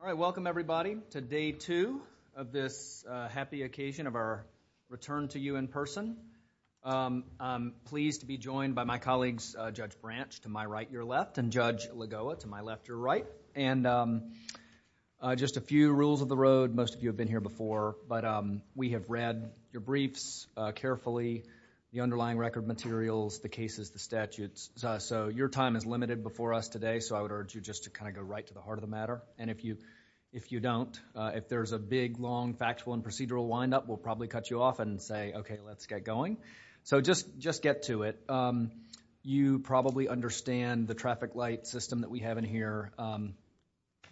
All right, welcome everybody to day two of this happy occasion of our return to you in person. I'm pleased to be joined by my colleagues, Judge Branch to my right, your left, and Judge Lagoa to my left, your right. And just a few rules of the road, most of you have been here before, but we have read your briefs carefully, the underlying record materials, the cases, the statutes, so your time is limited before us today, so I would you don't, if there's a big, long, factual and procedural wind up, we'll probably cut you off and say, okay, let's get going. So just get to it. You probably understand the traffic light system that we have in here.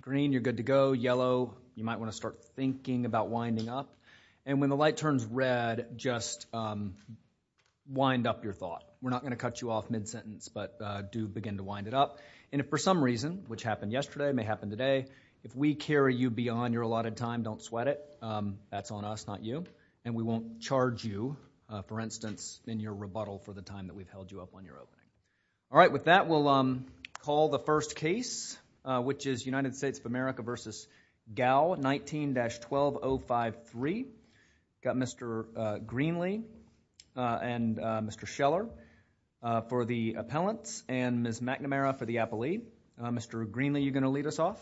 Green, you're good to go. Yellow, you might want to start thinking about winding up. And when the light turns red, just wind up your thought. We're not going to cut you off mid-sentence, but do begin to wind it up. And if for some reason, if we carry you beyond your allotted time, don't sweat it. That's on us, not you. And we won't charge you, for instance, in your rebuttal for the time that we've held you up on your opening. All right, with that, we'll call the first case, which is United States of America v. Gao, 19-12053. Got Mr. Greenlee and Mr. Scheller for the appellants and Ms. McNamara for the appellee. Mr. Greenlee, you're going to lead us off?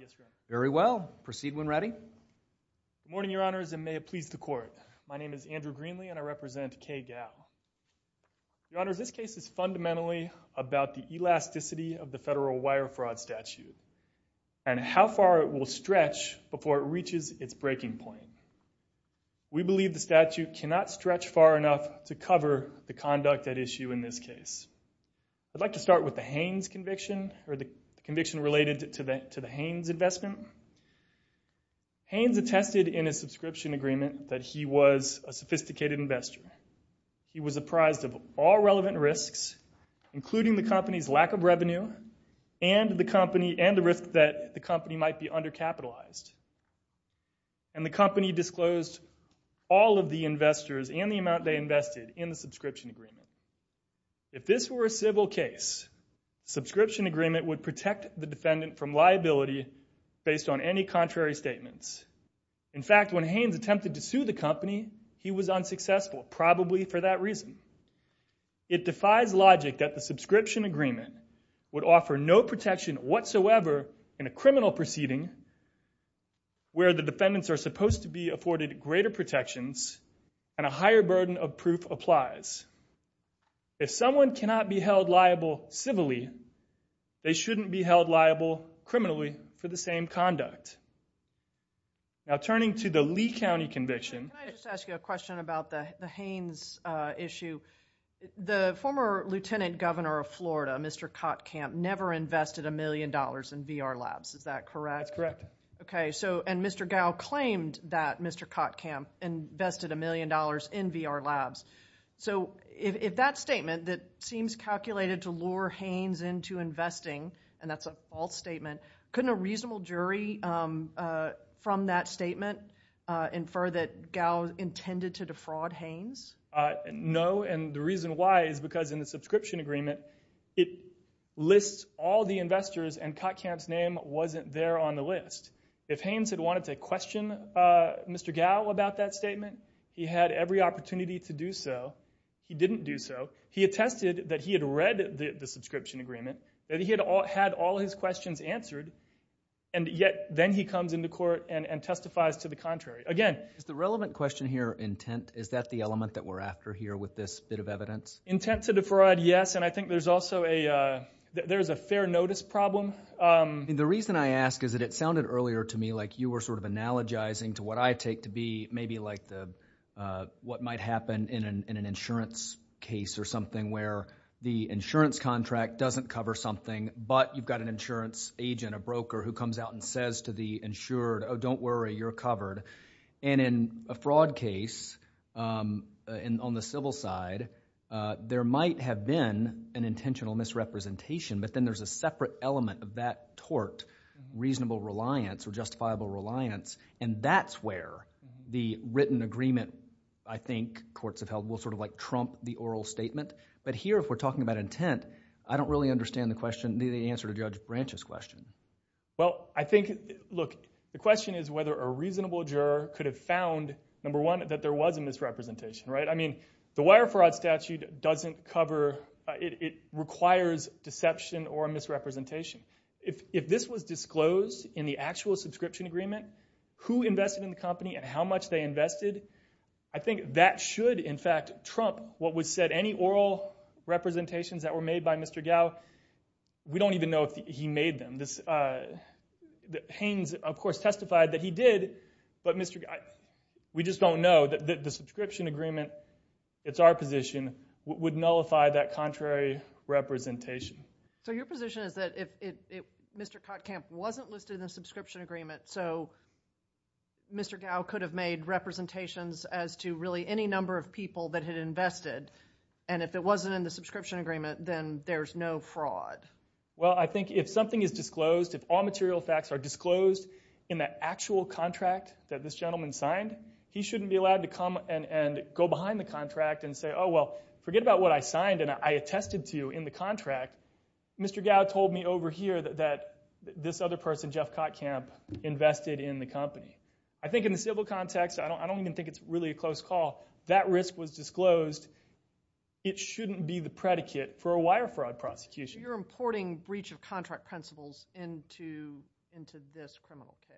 Yes, Your Honor. Very well. Proceed when ready. Good morning, Your Honors, and may it please the Court. My name is Andrew Greenlee and I represent Kay Gao. Your Honors, this case is fundamentally about the elasticity of the federal wire fraud statute and how far it will stretch before it reaches its breaking point. We believe the statute cannot stretch far enough to cover the conduct at issue in this case. I'd like to start with the Haynes conviction, or the conviction related to the Haynes investment. Haynes attested in his subscription agreement that he was a sophisticated investor. He was apprised of all relevant risks, including the company's lack of revenue and the risk that the company might be undercapitalized. And the company disclosed all of the investors and the amount they invested in the subscription agreement. If this were a civil case, the subscription agreement would protect the defendant from liability based on any contrary statements. In fact, when Haynes attempted to sue the company, he was unsuccessful, probably for that reason. It defies logic that the subscription agreement would offer no protection whatsoever in a criminal proceeding where the defendants are supposed to be afforded greater protections and a higher burden of proof applies. If someone cannot be held liable civilly, they shouldn't be held liable criminally for the same conduct. Now, turning to the Lee County conviction... Can I just ask you a question about the Haynes issue? The former lieutenant governor of Florida, Mr. Kottkamp, never invested a million dollars in VR labs, is that correct? That's correct. Okay, so, and Mr. Gow claimed that Mr. Kottkamp invested a million dollars in VR labs. So, if that statement that seems calculated to lure Haynes into investing, and that's a false statement, couldn't a reasonable jury from that statement infer that Gow intended to defraud Haynes? No, and the reason why is because in the subscription agreement, it lists all the investors and they're on the list. If Haynes had wanted to question Mr. Gow about that statement, he had every opportunity to do so. He didn't do so. He attested that he had read the subscription agreement, that he had all his questions answered, and yet, then he comes into court and testifies to the contrary. Again... Is the relevant question here intent? Is that the element that we're after here with this bit of evidence? Intent to defraud, yes, and I think there's also a, there's a fair notice problem. The reason I ask is that it sounded earlier to me like you were sort of analogizing to what I take to be maybe like the, what might happen in an insurance case or something where the insurance contract doesn't cover something, but you've got an insurance agent, a broker who comes out and says to the insured, oh, don't worry, you're covered. And in a fraud case on the civil side, there might have been an intentional misrepresentation, but then there's a separate element of that tort, reasonable reliance or justifiable reliance, and that's where the written agreement, I think, courts have held will sort of like trump the oral statement. But here, if we're talking about intent, I don't really understand the question, the answer to Judge Branch's question. Well, I think, look, the question is whether a reasonable juror could have found, number one, that there was a misrepresentation, right? I mean, the wire fraud statute doesn't cover, it requires deception or misrepresentation. If this was disclosed in the actual subscription agreement, who invested in the company and how much they invested, I think that should, in fact, trump what was said. Any oral representations that were made by Mr. Gao, we don't even know if he made them. Haynes, of course, testified that he did, but Mr. Gao, we just don't know that the subscription agreement, it's our position, would nullify that contrary representation. So your position is that if Mr. Kottkamp wasn't listed in the subscription agreement, so Mr. Gao could have made representations as to really any number of people that had invested, and if it wasn't in the subscription agreement, then there's no fraud? Well, I think if something is disclosed, if all material facts are disclosed in that actual contract that this gentleman signed, he shouldn't be allowed to come and go behind the contract and say, oh, well, forget about what I signed and I attested to in the contract. Mr. Gao told me over here that this other person, Jeff Kottkamp, invested in the company. I think in the civil context, I don't even think it's really a close call. That risk was disclosed. It shouldn't be the predicate for a wire fraud prosecution. You're importing breach of contract principles into this criminal case?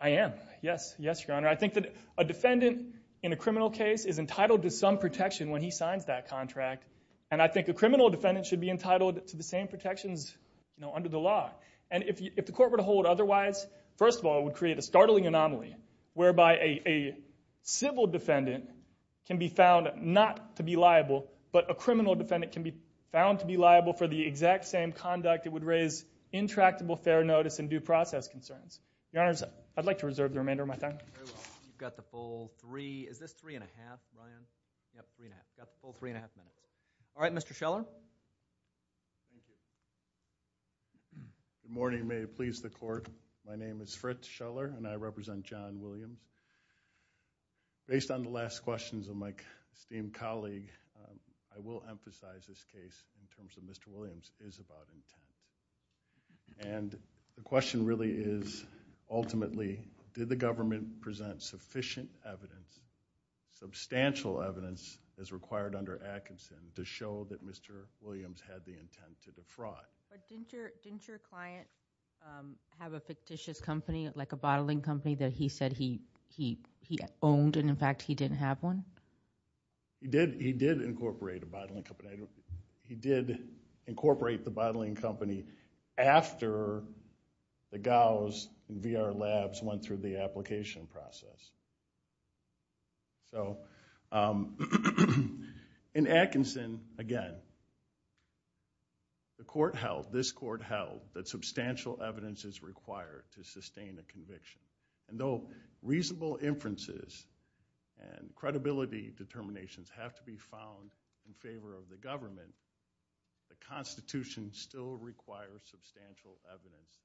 I am. Yes. Yes, Your Honor. I think that a defendant in a criminal case is entitled to some protection when he signs that contract, and I think a criminal defendant should be entitled to the same protections under the law. And if the court were to hold otherwise, first of all, it would create a startling anomaly whereby a civil defendant can be found not to be liable, but a criminal defendant can be found to be liable for the exact same conduct, it would raise intractable fair notice and due process concerns. Your Honors, I'd like to reserve the remainder of my time. Very well. You've got the full three, is this three and a half, Ryan? Yep, three and a half. You've got the full three and a half minutes. All right, Mr. Scheller. Thank you. Good morning. May it please the court. My name is Fritz Scheller and I represent John Williams. Based on the last questions of my esteemed colleague, I will emphasize this case in terms of Mr. Williams is about intent. And the question really is, ultimately, did the government present sufficient evidence, substantial evidence as required under Atkinson to show that Mr. Williams had the intent to defraud? But didn't your client have a fictitious company, like a bottling company that he said he owned and in fact he didn't have one? He did incorporate a bottling company. He did incorporate the bottling company after the Gauss VR labs went through the application process. So in Atkinson, again, the court held, this court held, that substantial evidence is required to sustain a conviction. And so reasonable inferences and credibility determinations have to be found in favor of the government. The Constitution still requires substantial evidence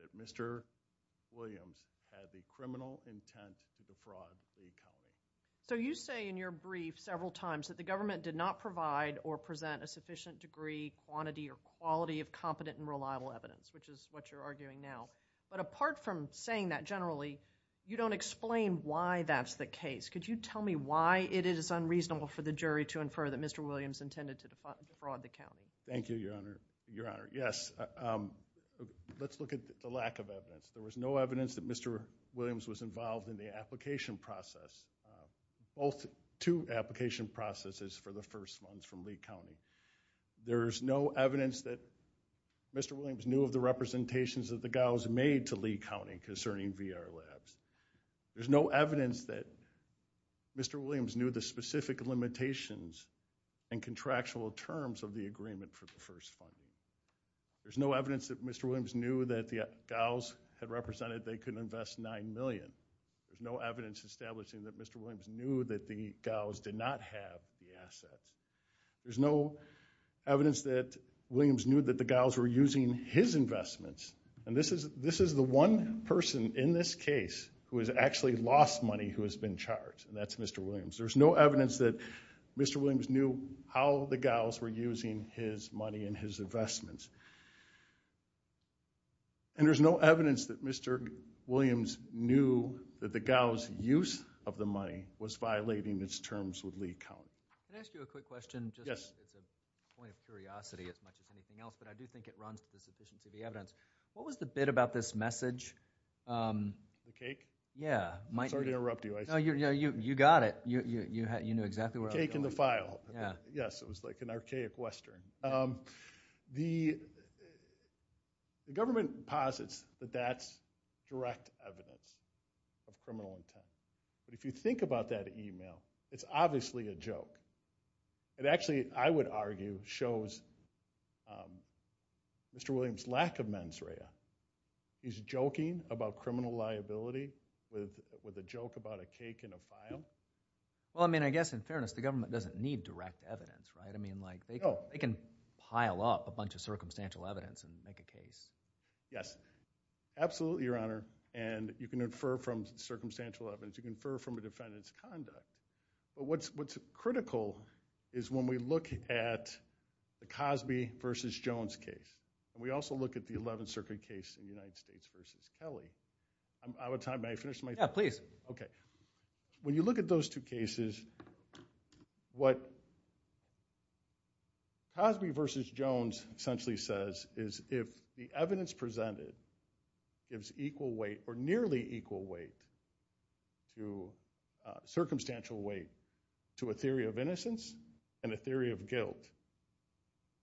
that Mr. Williams had the criminal intent to defraud a company. So you say in your brief several times that the government did not provide or present a sufficient degree, quantity, or quality of competent and reliable evidence, which is what you're arguing now. But apart from saying that generally, you don't explain why that's the case. Could you tell me why it is unreasonable for the jury to infer that Mr. Williams intended to defraud the county? Thank you, Your Honor. Your Honor, yes. Let's look at the lack of evidence. There was no evidence that Mr. Williams was involved in the application process. Both two application processes for the first ones from Lee County. There's no evidence that Mr. Williams knew of the representations that the Gauss made to Lee County concerning VR labs. There's no evidence that Mr. Williams knew the specific limitations and contractual terms of the agreement for the first funding. There's no evidence that Mr. Williams knew that the Gauss had represented they couldn't invest nine million. There's no evidence establishing that Mr. Williams knew that the Gauss did not have the assets. There's no evidence that Williams knew that the Gauss were using his investments. And this is this is the one person in this case who has actually lost money who has been charged. And that's Mr. Williams. There's no evidence that Mr. Williams knew how the Gauss were using his money and his investments. And there's no evidence that Mr. Williams knew that the Gauss use of the money was violating its terms with Lee County. Can I ask you a quick question? Yes. It's a point of the evidence. What was the bit about this message? The cake? Yeah. Sorry to interrupt you. You got it. You knew exactly where I was going. Cake in the file. Yeah. Yes it was like an archaic Western. The government posits that that's direct evidence of criminal intent. But if you think about that email, it's obviously a joke. It actually, I would argue, shows Mr. Williams' lack of mens rea. He's joking about criminal liability with a joke about a cake in a file. Well I mean I guess in fairness the government doesn't need direct evidence, right? I mean like they can pile up a bunch of circumstantial evidence and make a case. Yes. Absolutely, Your Honor. And you can infer from circumstantial evidence. You can infer from a defendant's conduct. But what's critical is when we look at the Cosby v. Jones case. We also look at the 11th Circuit case in the United States v. Kelly. I'm out of time. May I finish my? Yeah, please. Okay. When you look at those two cases, what Cosby v. Jones essentially says is if the evidence to circumstantial weight to a theory of innocence and a theory of guilt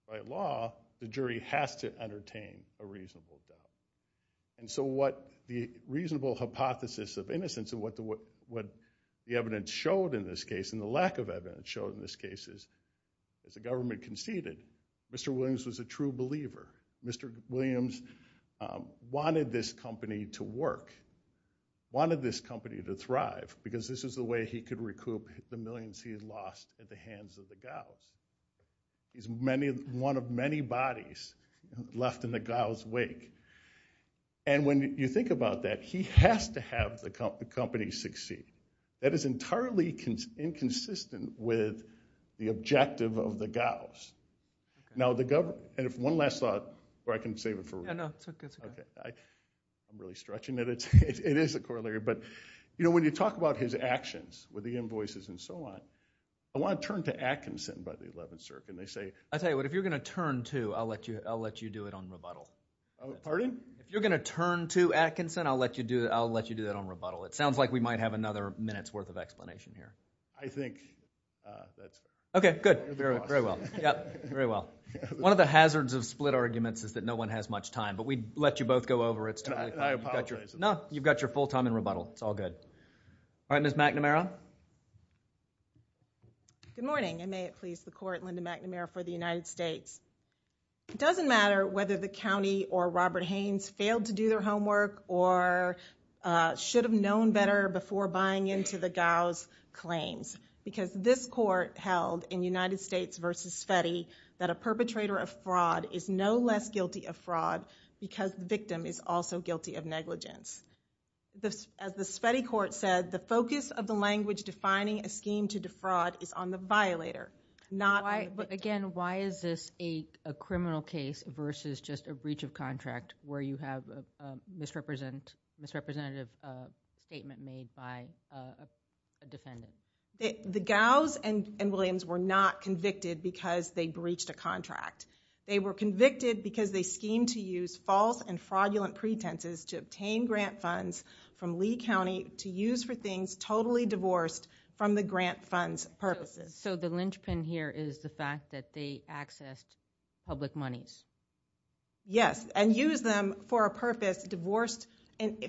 by law, the jury has to entertain a reasonable doubt. And so what the reasonable hypothesis of innocence and what the evidence showed in this case and the lack of evidence showed in this case is as the government conceded, Mr. Williams was a true believer. Mr. Williams wanted this company to work. Wanted this company to thrive because this is the way he could recoup the millions he had lost at the hands of the gals. He's one of many bodies left in the gals' wake. And when you think about that, he has to have the company succeed. That is entirely inconsistent with the objective of the gals. Now, the government – and if one last thought, or I can save it for – I'm really stretching it. It is a corollary. But when you talk about his actions with the invoices and so on, I want to turn to Atkinson by the 11th Circuit, and they say – If you're going to turn to Atkinson, I'll let you do that on rebuttal. It sounds like we might have another minute's worth of explanation here. I think that's it. Okay, good. Very well. Very well. One of the hazards of split arguments is that no one has much time, but we'd let you both go over it. I apologize. No, you've got your full time in rebuttal. It's all good. All right, Ms. McNamara. Good morning, and may it please the court, Linda McNamara for the United States. It doesn't matter whether the county or Robert Haynes failed to do their homework or should have known better before buying into the gals' claims, because this court held in United States v. Sveti that a perpetrator of fraud is no less guilty of fraud because the victim is also guilty of negligence. As the Sveti court said, the focus of the language defining a scheme to defraud is on the violator. Again, why is this a criminal case versus just a breach of contract where you have a misrepresentative statement made by a defendant? The gals and Williams were not convicted because they breached a contract. They were convicted because they schemed to use false and fraudulent pretenses to obtain grant funds from Lee County to use for things totally divorced from the grant funds purposes. So the linchpin here is the fact that they accessed public monies? Yes, and used them for a purpose divorced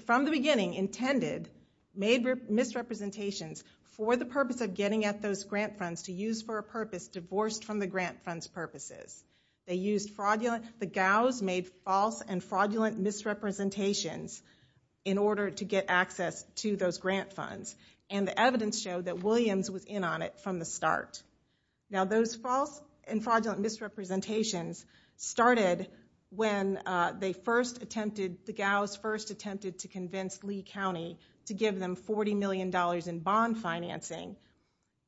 from the beginning, intended, made misrepresentations for the purpose of getting at those grant funds to use for a purpose divorced from the grant funds purposes. They used fraudulent, the gals made false and fraudulent misrepresentations in order to get access to those grant funds, and the evidence showed that Williams was in on it from the start. Now those false and fraudulent misrepresentations started when they first attempted, the gals first attempted to convince Lee County to give them $40 million in bond financing.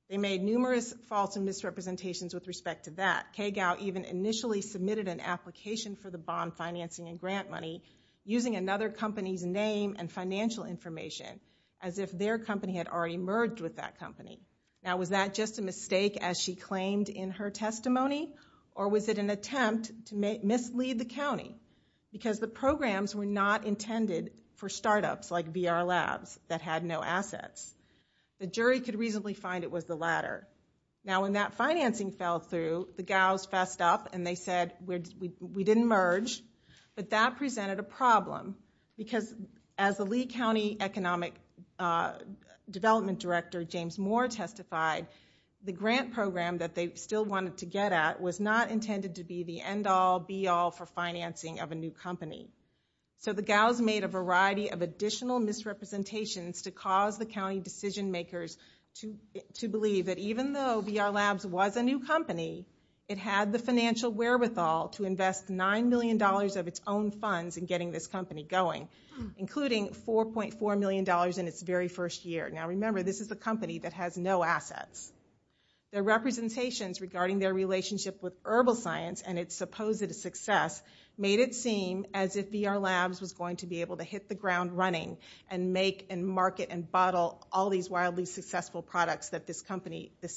They made numerous false and misrepresentations with respect to that. Kay Gow even initially submitted an application for the bond financing and grant money using another company's name and financial information as if their company had already merged with that company. Now was that just a mistake as she claimed in her testimony? Or was it an attempt to mislead the county? Because the programs were not intended for startups like VR Labs that had no assets. The jury could reasonably find it was the latter. Now when that financing fell through, the gals fessed up and they said we didn't merge, but that presented a problem. Because as the Lee County Economic Development Director, James Moore, testified, the grant program that they still wanted to get at was not intended to be the end-all, be-all for financing of a new company. So the gals made a variety of additional misrepresentations to cause the county decision makers to believe that even though VR Labs was a new company, it had the financial wherewithal to invest $9 million of its own funds in getting this company going, including $4.4 million in its very first year. Now remember, this is a company that has no assets. Their representations regarding their relationship with herbal science and its supposed success made it seem as if VR Labs was going to be able to hit the ground running and make and market and bottle all these wildly successful products that this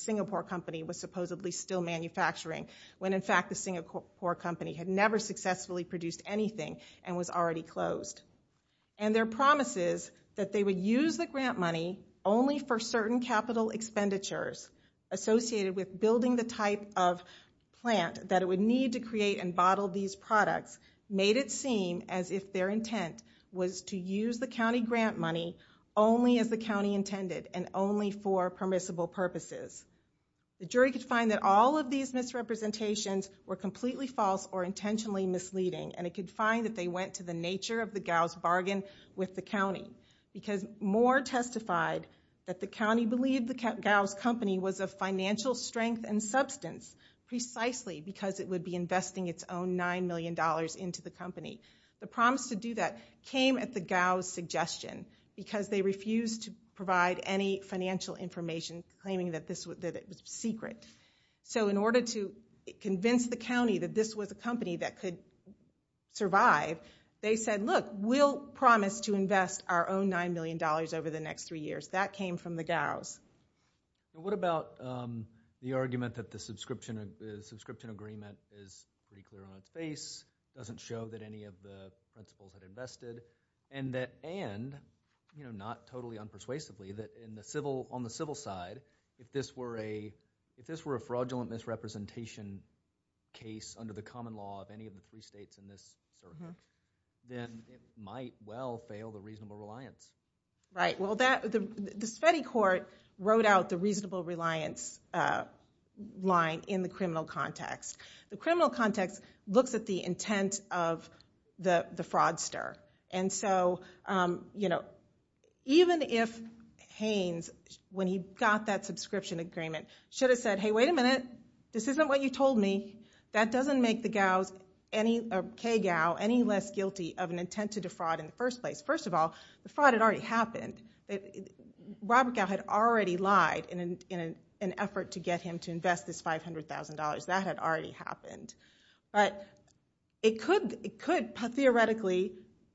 Singapore company was supposedly still manufacturing, when in fact the Singapore company had never successfully produced anything and was already closed. And their promises that they would use the grant money only for certain capital expenditures associated with building the type of plant that it would need to create and bottle these products made it seem as if their intent was to use the county grant money only as the county intended and only for permissible purposes. The jury could find that all of these misrepresentations were completely false or intentionally misleading, and it could find that they went to the nature of the gals' bargain with the county, because Moore testified that the county believed the gals' company was of financial strength and substance precisely because it would be investing its own $9 million into the company. The promise to do that came at the gals' suggestion, because they refused to provide any financial information claiming that it was secret. So in order to convince the county that this was a company that could survive, they said, look, we'll promise to invest our own $9 million over the next three years. What about the argument that the subscription agreement is pretty clear on its face, doesn't show that any of the principals had invested, and not totally unpersuasively, that on the civil side, if this were a fraudulent misrepresentation case under the common law of any of the three states in this circuit, then it might well fail the reasonable reliance. Right. Well, the Sveti court wrote out the reasonable reliance line in the criminal context. The criminal context looks at the intent of the fraudster. And so even if Haynes, when he got that subscription agreement, should have said, hey, wait a minute. This isn't what you told me. That doesn't make the gals' any less guilty of an intent to defraud in the first place. First of all, the fraud had already happened. Robert Gao had already lied in an effort to get him to invest this $500,000. That had already happened. But it could theoretically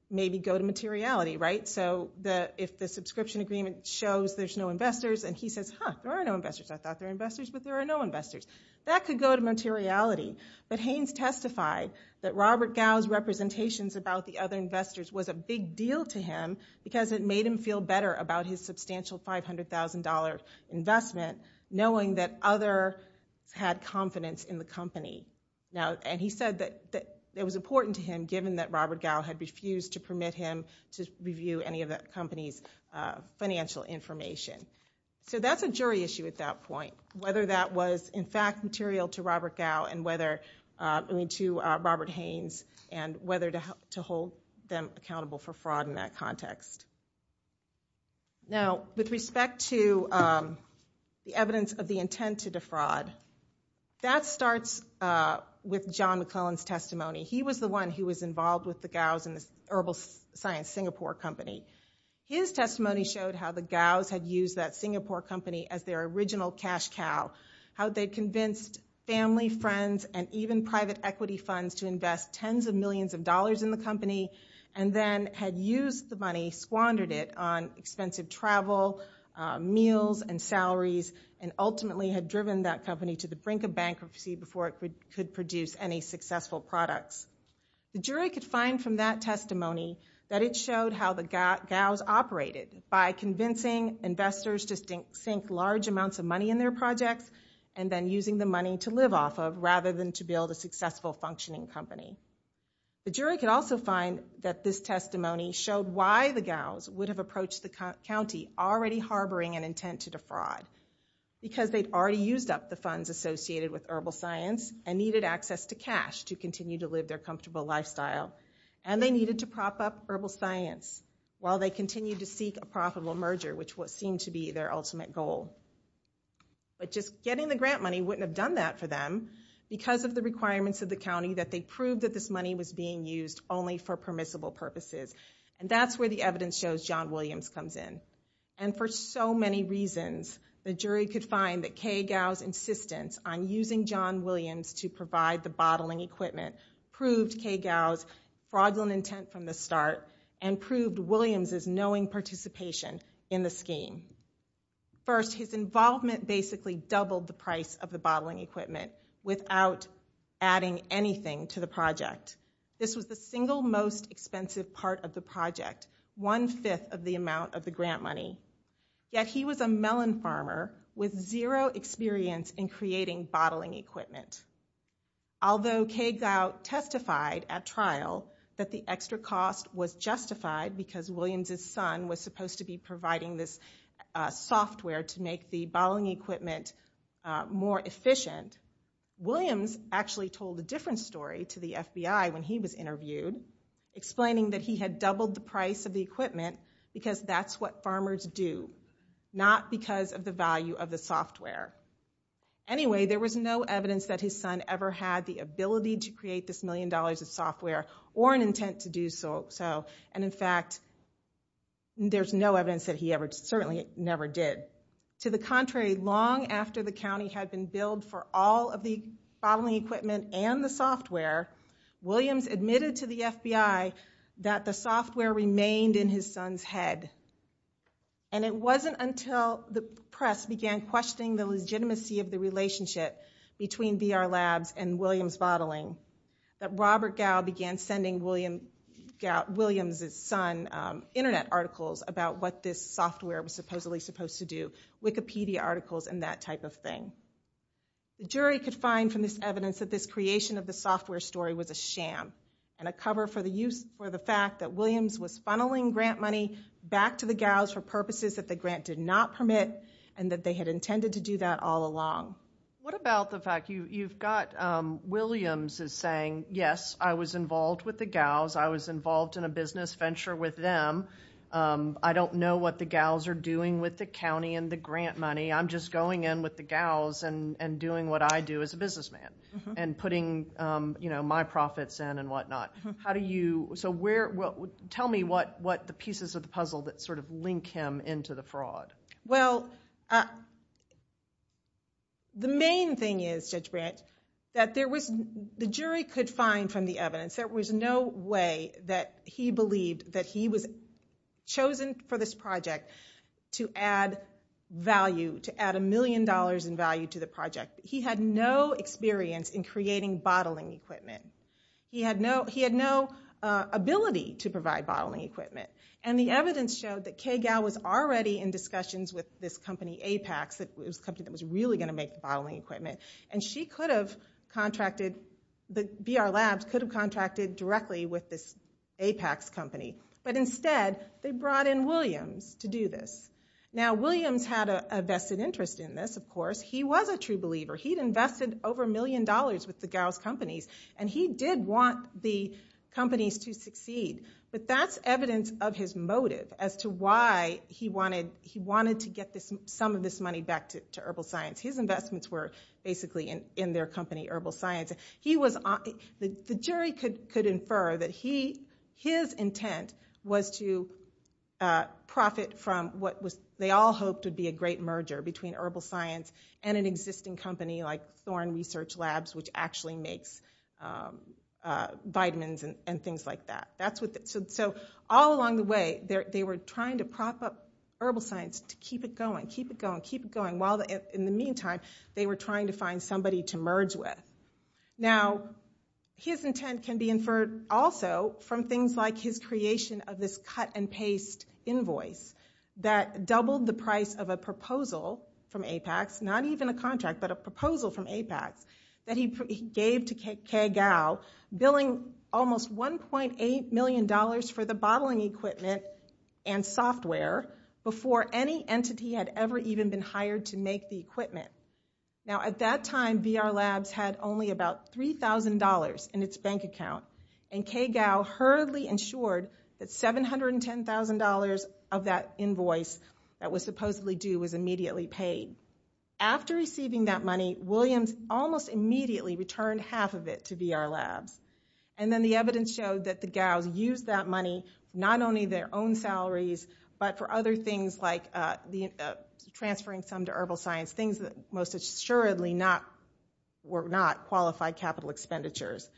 maybe go to materiality, right? So if the subscription agreement shows there's no investors, and he says, huh, there are no investors. I thought there were investors, but there are no investors. That could go to materiality. But Haynes testified that Robert Gao's representations about the other investors was a big deal to him because it made him feel better about his substantial $500,000 investment, knowing that others had confidence in the company. And he said that it was important to him, given that Robert Gao had refused to permit him to review any of that company's financial information. So that's a jury issue at that point. Whether that was, in fact, material to Robert Gao and whether to Robert Haynes and whether to hold them accountable for fraud in that context. Now, with respect to the evidence of the intent to defraud, that starts with John McClellan's testimony. He was the one who was involved with the Gaus and the Herbal Science Singapore Company. His testimony showed how the Gaus had used that Singapore company as their original cash cow, how they convinced family, friends, and even private equity funds to invest tens of millions of dollars in the company and then had used the money, squandered it on expensive travel, meals, and salaries, and ultimately had driven that company to the brink of bankruptcy before it could produce any successful products. The jury could find from that testimony that it showed how the Gaus operated by convincing investors to sink large amounts of money in their projects and then using the money to live off of rather than to build a successful functioning company. The jury could also find that this testimony showed why the Gaus would have approached the county already harboring an intent to defraud, because they'd already used up the funds associated with herbal science and needed access to cash to continue to live their comfortable lifestyle, and they needed to prop up herbal science while they continued to seek a profitable merger, which seemed to be their ultimate goal. But just getting the grant money wouldn't have done that for them because of the requirements of the county that they proved that this money was being used only for permissible purposes, and that's where the evidence shows John Williams comes in. And for so many reasons, the jury could find that Kay Gaus' insistence on using John Williams to provide the bottling equipment proved Kay Gaus' fraudulent intent from the start and proved Williams' knowing participation in the scheme. First, his involvement basically doubled the price of the bottling equipment without adding anything to the project. This was the single most expensive part of the project, one-fifth of the amount of the grant money. Yet he was a melon farmer with zero experience in creating bottling equipment. Although Kay Gaus testified at trial that the extra cost was justified because Williams' son was supposed to be providing this software to make the bottling equipment more efficient, Williams actually told a different story to the FBI when he was interviewed, explaining that he had doubled the price of the equipment because that's what farmers do, not because of the value of the software. Anyway, there was no evidence that his son ever had the ability to create this million dollars of software or an intent to do so, and in fact, there's no evidence that he ever, certainly never did. To the contrary, long after the county had been billed for all of the bottling equipment and the software, Williams admitted to the FBI that the software remained in his son's head. And it wasn't until the press began questioning the legitimacy of the relationship between VR Labs and Williams Bottling that Robert Gau began sending Williams' son internet articles about what this software was supposedly supposed to do, Wikipedia articles and that type of thing. The jury could find from this evidence that this creation of the software story was a sham and a cover for the fact that Williams was funneling grant money back to the Gaus for purposes that the grant did not permit and that they had intended to do that all along. What about the fact you've got Williams saying, yes, I was involved with the Gaus, I was involved in a business venture with them, I don't know what the Gaus are doing with the county and the grant money, I'm just going in with the Gaus and doing what I do as a businessman and putting my profits in and whatnot. How do you, so where, tell me what the pieces of the puzzle that sort of link him into the fraud. Well, the main thing is, Judge Branch, that there was, the jury could find from the evidence there was no way that he believed that he was chosen for this project to add value, to add a million dollars in value to the project. He had no experience in creating bottling equipment. He had no ability to provide bottling equipment. And the evidence showed that Kay Gau was already in discussions with this company, Apex, it was a company that was really going to make bottling equipment, and she could have contracted, the BR Labs could have contracted directly with this Apex company. But instead, they brought in Williams to do this. Now, Williams had a vested interest in this, of course. He was a true believer. He'd invested over a million dollars with the Gaus companies, and he did want the companies to succeed. But that's evidence of his motive as to why he wanted to get some of this money back to herbal science. His investments were basically in their company, herbal science. The jury could infer that his intent was to profit from what they all hoped would be a great merger between herbal science and an existing company like Thorn Research Labs, which actually makes vitamins and things like that. So all along the way, they were trying to prop up herbal science, to keep it going, keep it going, while in the meantime, they were trying to find somebody to merge with. Now, his intent can be inferred also from things like his creation of this cut-and-paste invoice that doubled the price of a proposal from Apex, not even a contract, but a proposal from Apex, that he gave to Ke Gao, billing almost $1.8 million for the bottling equipment and software before any entity had ever even been hired to make the equipment. Now, at that time, VR Labs had only about $3,000 in its bank account, and Ke Gao hurriedly insured that $710,000 of that invoice that was supposedly due was immediately paid. After receiving that money, Williams almost immediately returned half of it to VR Labs. And then the evidence showed that the Gaos used that money not only their own salaries, but for other things like transferring some to herbal science, things that most assuredly were not qualified capital expenditures.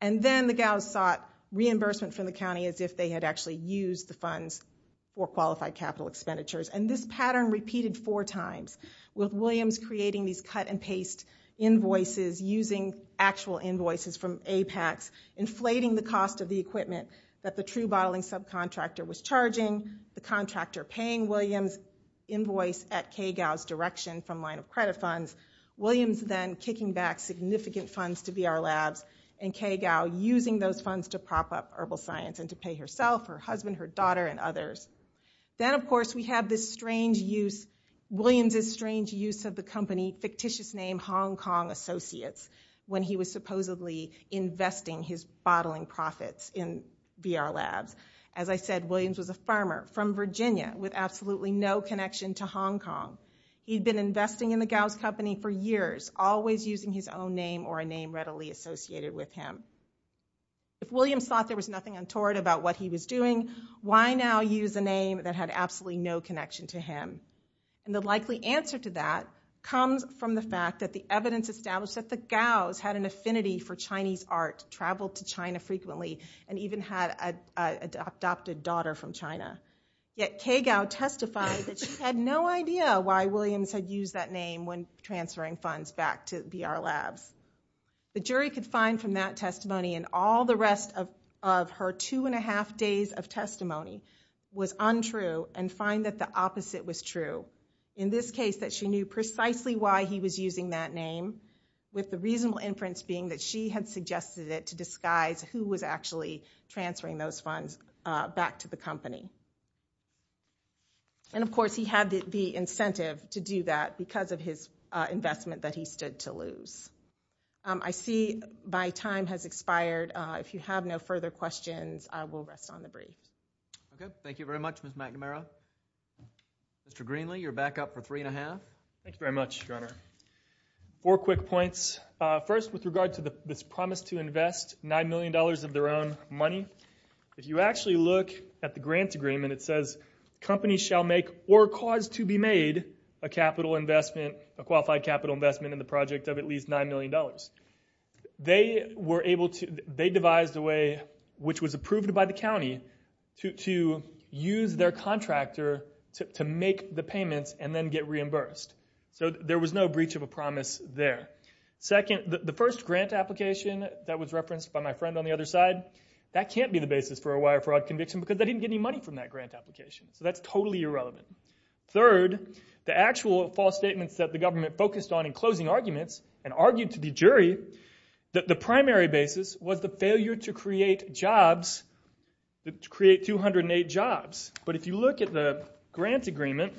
And then the Gaos sought reimbursement from the county as if they had actually used the funds for qualified capital expenditures. And this pattern repeated four times, with Williams creating these cut-and-paste invoices, using actual invoices from Apex, inflating the cost of the equipment that the true bottling subcontractor was charging, the contractor paying Williams' invoice at Ke Gao's direction from line of credit funds, Williams then kicking back significant funds to VR Labs, and Ke Gao using those funds to prop up herbal science and to pay herself, her husband, her daughter, and others. Then, of course, we have this strange use, Williams' strange use of the company, fictitious name Hong Kong Associates, when he was supposedly investing his bottling profits in VR Labs. As I said, Williams was a farmer from Virginia with absolutely no connection to Hong Kong. He'd been investing in the Gaos company for years, always using his own name or a name readily associated with him. If Williams thought there was nothing untoward about what he was doing, why now use a name that had absolutely no connection to him? The likely answer to that comes from the fact that the evidence established that the Gaos had an affinity for Chinese art, traveled to China frequently, and even had an adopted daughter from China. Yet Ke Gao testified that she had no idea why Williams had used that name when transferring funds back to VR Labs. The jury could find from that testimony and all the rest of her two and a half days of testimony was untrue and find that the opposite was true. In this case, that she knew precisely why he was using that name, with the reasonable inference being that she had suggested it to disguise who was actually transferring those funds back to the company. And, of course, he had the incentive to do that because of his investment that he stood to lose. I see my time has expired. If you have no further questions, I will rest on the brief. Okay, thank you very much, Ms. McNamara. Mr. Greenlee, you're back up for three and a half. Thank you very much, Governor. Four quick points. First, with regard to this promise to invest $9 million of their own money, if you actually look at the grant agreement, it says, companies shall make or cause to be made a capital investment, a qualified capital investment in the project of at least $9 million. They devised a way, which was approved by the county, to use their contractor to make the payments and then get reimbursed. So there was no breach of a promise there. Second, the first grant application that was referenced by my friend on the other side, that can't be the basis for a wire fraud conviction because they didn't get any money from that grant application. So that's totally irrelevant. Third, the actual false statements that the government focused on in closing arguments and argued to the jury that the primary basis was the failure to create jobs, to create 208 jobs. But if you look at the grant agreement,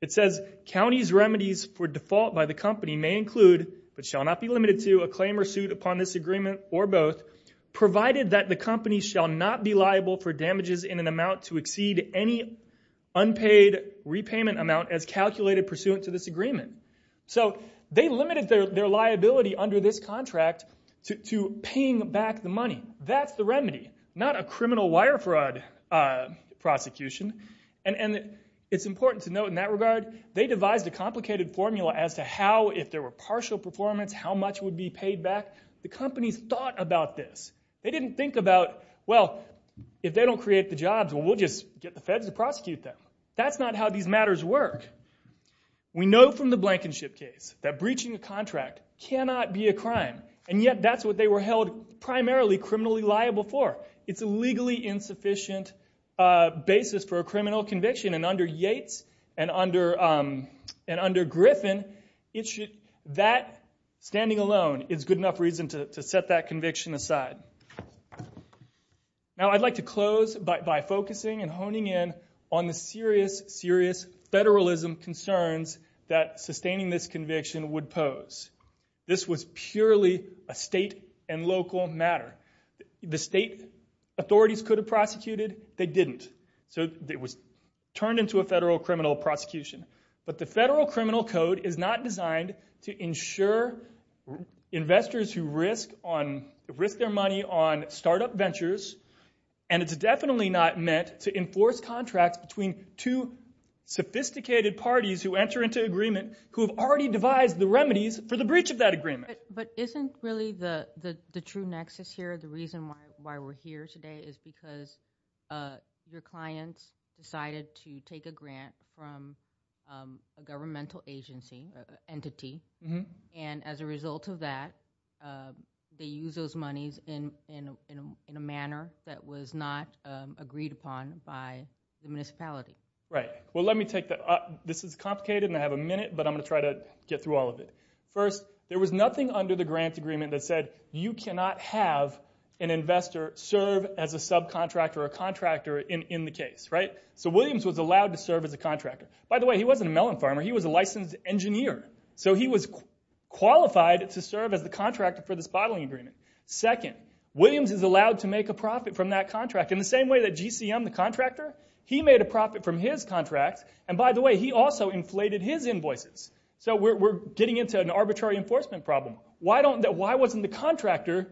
it says, counties' remedies for default by the company may include, but shall not be limited to, a claim or suit upon this agreement or both, provided that the company shall not be liable for damages in an amount to exceed any unpaid repayment amount as calculated pursuant to this agreement. So they limited their liability under this contract to paying back the money. That's the remedy, not a criminal wire fraud prosecution. And it's important to note in that regard, they devised a complicated formula as to how, if there were partial performance, how much would be paid back. The companies thought about this. They didn't think about, well, if they don't create the jobs, well, we'll just get the feds to prosecute them. That's not how these matters work. We know from the Blankenship case that breaching a contract cannot be a crime, and yet that's what they were held primarily criminally liable for. It's a legally insufficient basis for a criminal conviction, and under Yates and under Griffin, that standing alone is good enough reason to set that conviction aside. Now I'd like to close by focusing and honing in on the serious, serious federalism concerns that sustaining this conviction would pose. This was purely a state and local matter. The state authorities could have prosecuted. They didn't, so it was turned into a federal criminal prosecution. But the federal criminal code is not designed to ensure investors who risk their money on startup ventures, and it's definitely not meant to enforce contracts between two sophisticated parties who enter into agreement who have already devised the remedies for the breach of that agreement. But isn't really the true nexus here the reason why we're here today is because your clients decided to take a grant from a governmental agency, entity, and as a result of that, they used those monies in a manner that was not agreed upon by the municipality. Right. Well, let me take that up. This is complicated, and I have a minute, but I'm going to try to get through all of it. First, there was nothing under the grant agreement that said you cannot have an investor serve as a subcontractor or a contractor in the case. So Williams was allowed to serve as a contractor. By the way, he wasn't a melon farmer. He was a licensed engineer. So he was qualified to serve as the contractor for this bottling agreement. Second, Williams is allowed to make a profit from that contract. In the same way that GCM, the contractor, he made a profit from his contract, and by the way, he also inflated his invoices. So we're getting into an arbitrary enforcement problem. Why wasn't the contractor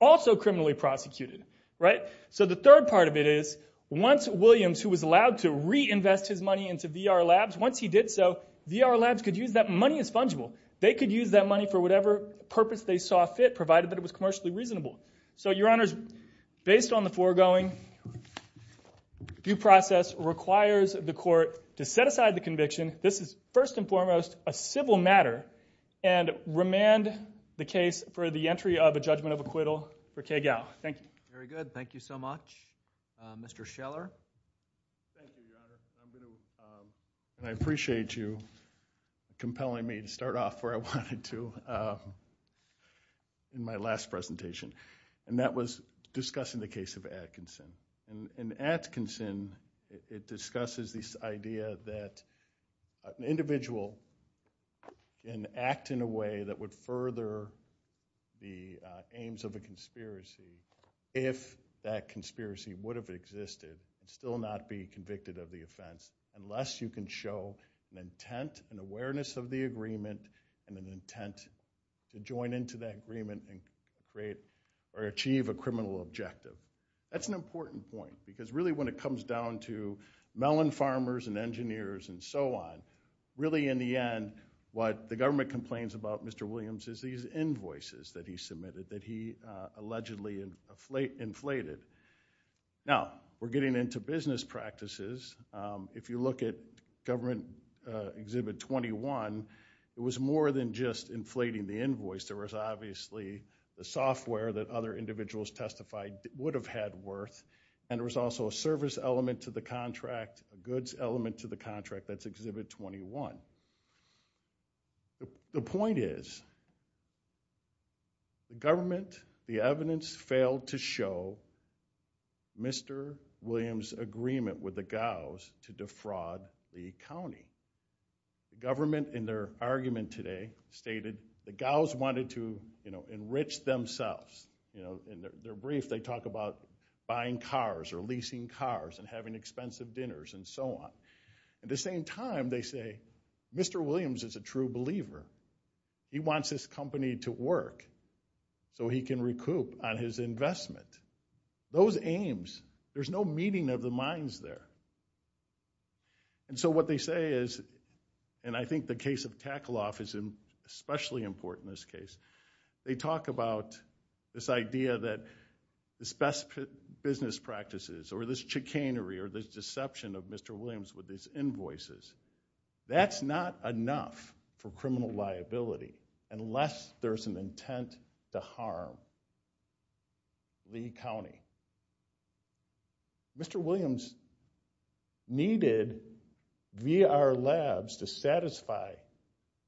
also criminally prosecuted, right? So the third part of it is once Williams, who was allowed to reinvest his money into VR Labs, once he did so, VR Labs could use that money as fungible. They could use that money for whatever purpose they saw fit, provided that it was commercially reasonable. So, Your Honors, based on the foregoing due process requires the court to set aside the conviction. This is, first and foremost, a civil matter, and remand the case for the entry of a judgment of acquittal for Kay Gow. Thank you. Very good. Thank you so much. Mr. Scheller. Thank you, Your Honor. I appreciate you compelling me to start off where I wanted to in my last presentation, and that was discussing the case of Atkinson. In Atkinson, it discusses this idea that an individual can act in a way that would further the aims of a conspiracy if that conspiracy would have existed and still not be convicted of the offense, unless you can show an intent and awareness of the agreement and an intent to join into that agreement and create or achieve a criminal objective. That's an important point, because really when it comes down to melon farmers and engineers and so on, really, in the end, what the government complains about Mr. Williams is these invoices that he submitted that he allegedly inflated. Now, we're getting into business practices. If you look at Government Exhibit 21, it was more than just inflating the invoice. There was obviously the software that other individuals testified would have had worth, and there was also a service element to the contract, a goods element to the contract. That's Exhibit 21. The point is the government, the evidence, failed to show Mr. Williams' agreement with the Gaos to defraud the county. The government, in their argument today, stated the Gaos wanted to enrich themselves. In their brief, they talk about buying cars or leasing cars and having expensive dinners and so on. At the same time, they say Mr. Williams is a true believer. He wants his company to work so he can recoup on his investment. Those aims, there's no meeting of the minds there. And so what they say is, and I think the case of Tackle Off is especially important in this case, they talk about this idea that this best business practices or this chicanery or this deception of Mr. Williams with his invoices, that's not enough for criminal liability unless there's an intent to harm the county. Mr. Williams needed VR Labs to satisfy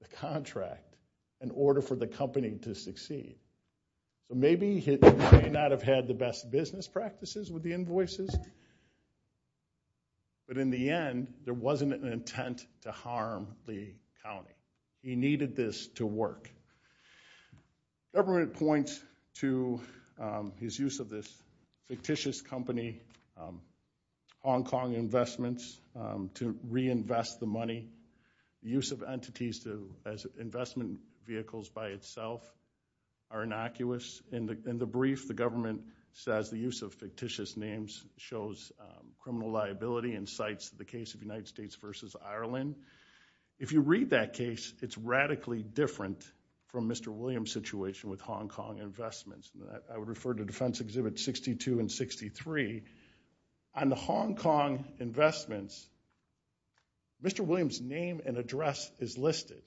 the contract in order for the company to succeed. So maybe he may not have had the best business practices with the invoices, but in the end, there wasn't an intent to harm the county. He needed this to work. Government points to his use of this fictitious company, Hong Kong Investments, to reinvest the money. Use of entities as investment vehicles by itself are innocuous. In the brief, the government says the use of fictitious names shows criminal liability and cites the case of United States versus Ireland. If you read that case, it's radically different from Mr. Williams' situation with Hong Kong Investments. I would refer to Defense Exhibits 62 and 63. On the Hong Kong Investments, Mr. Williams' name and address is listed.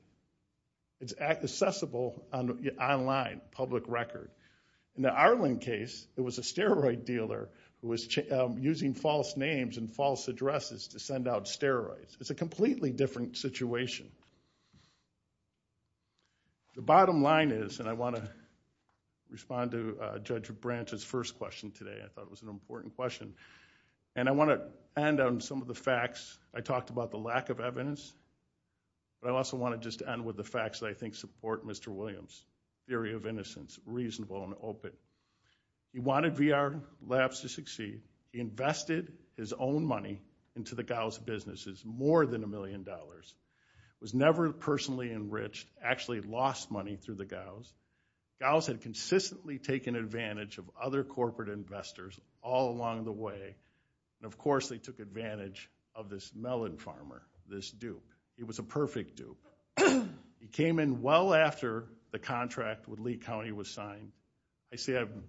It's accessible online, public record. In the Ireland case, it was a steroid dealer who was using false names and false addresses to send out steroids. It's a completely different situation. The bottom line is, and I want to respond to Judge Branch's first question today. I thought it was an important question. And I want to end on some of the facts. I talked about the lack of evidence, but I also want to just end with the facts that I think support Mr. Williams' theory of innocence, reasonable and open. He wanted VR Labs to succeed. He invested his own money into the Gauss businesses, more than a million dollars, was never personally enriched, actually lost money through the Gauss. Gauss had consistently taken advantage of other corporate investors all along the way. And, of course, they took advantage of this melon farmer, this dupe. He was a perfect dupe. He came in well after the contract with Lee County was signed. Can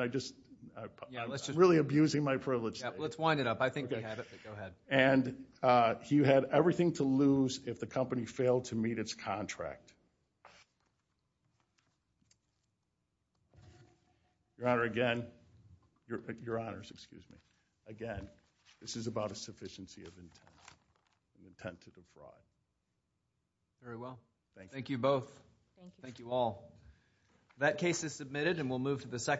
I just? I'm really abusing my privilege today. Let's wind it up. I think we have it, but go ahead. And he had everything to lose if the company failed to meet its contract. Your Honor, again. Your Honors, excuse me. Again, this is about a sufficiency of intent, an intent to defraud. Very well. Thank you. Thank you both. Thank you all. That case is submitted and we'll move to the second.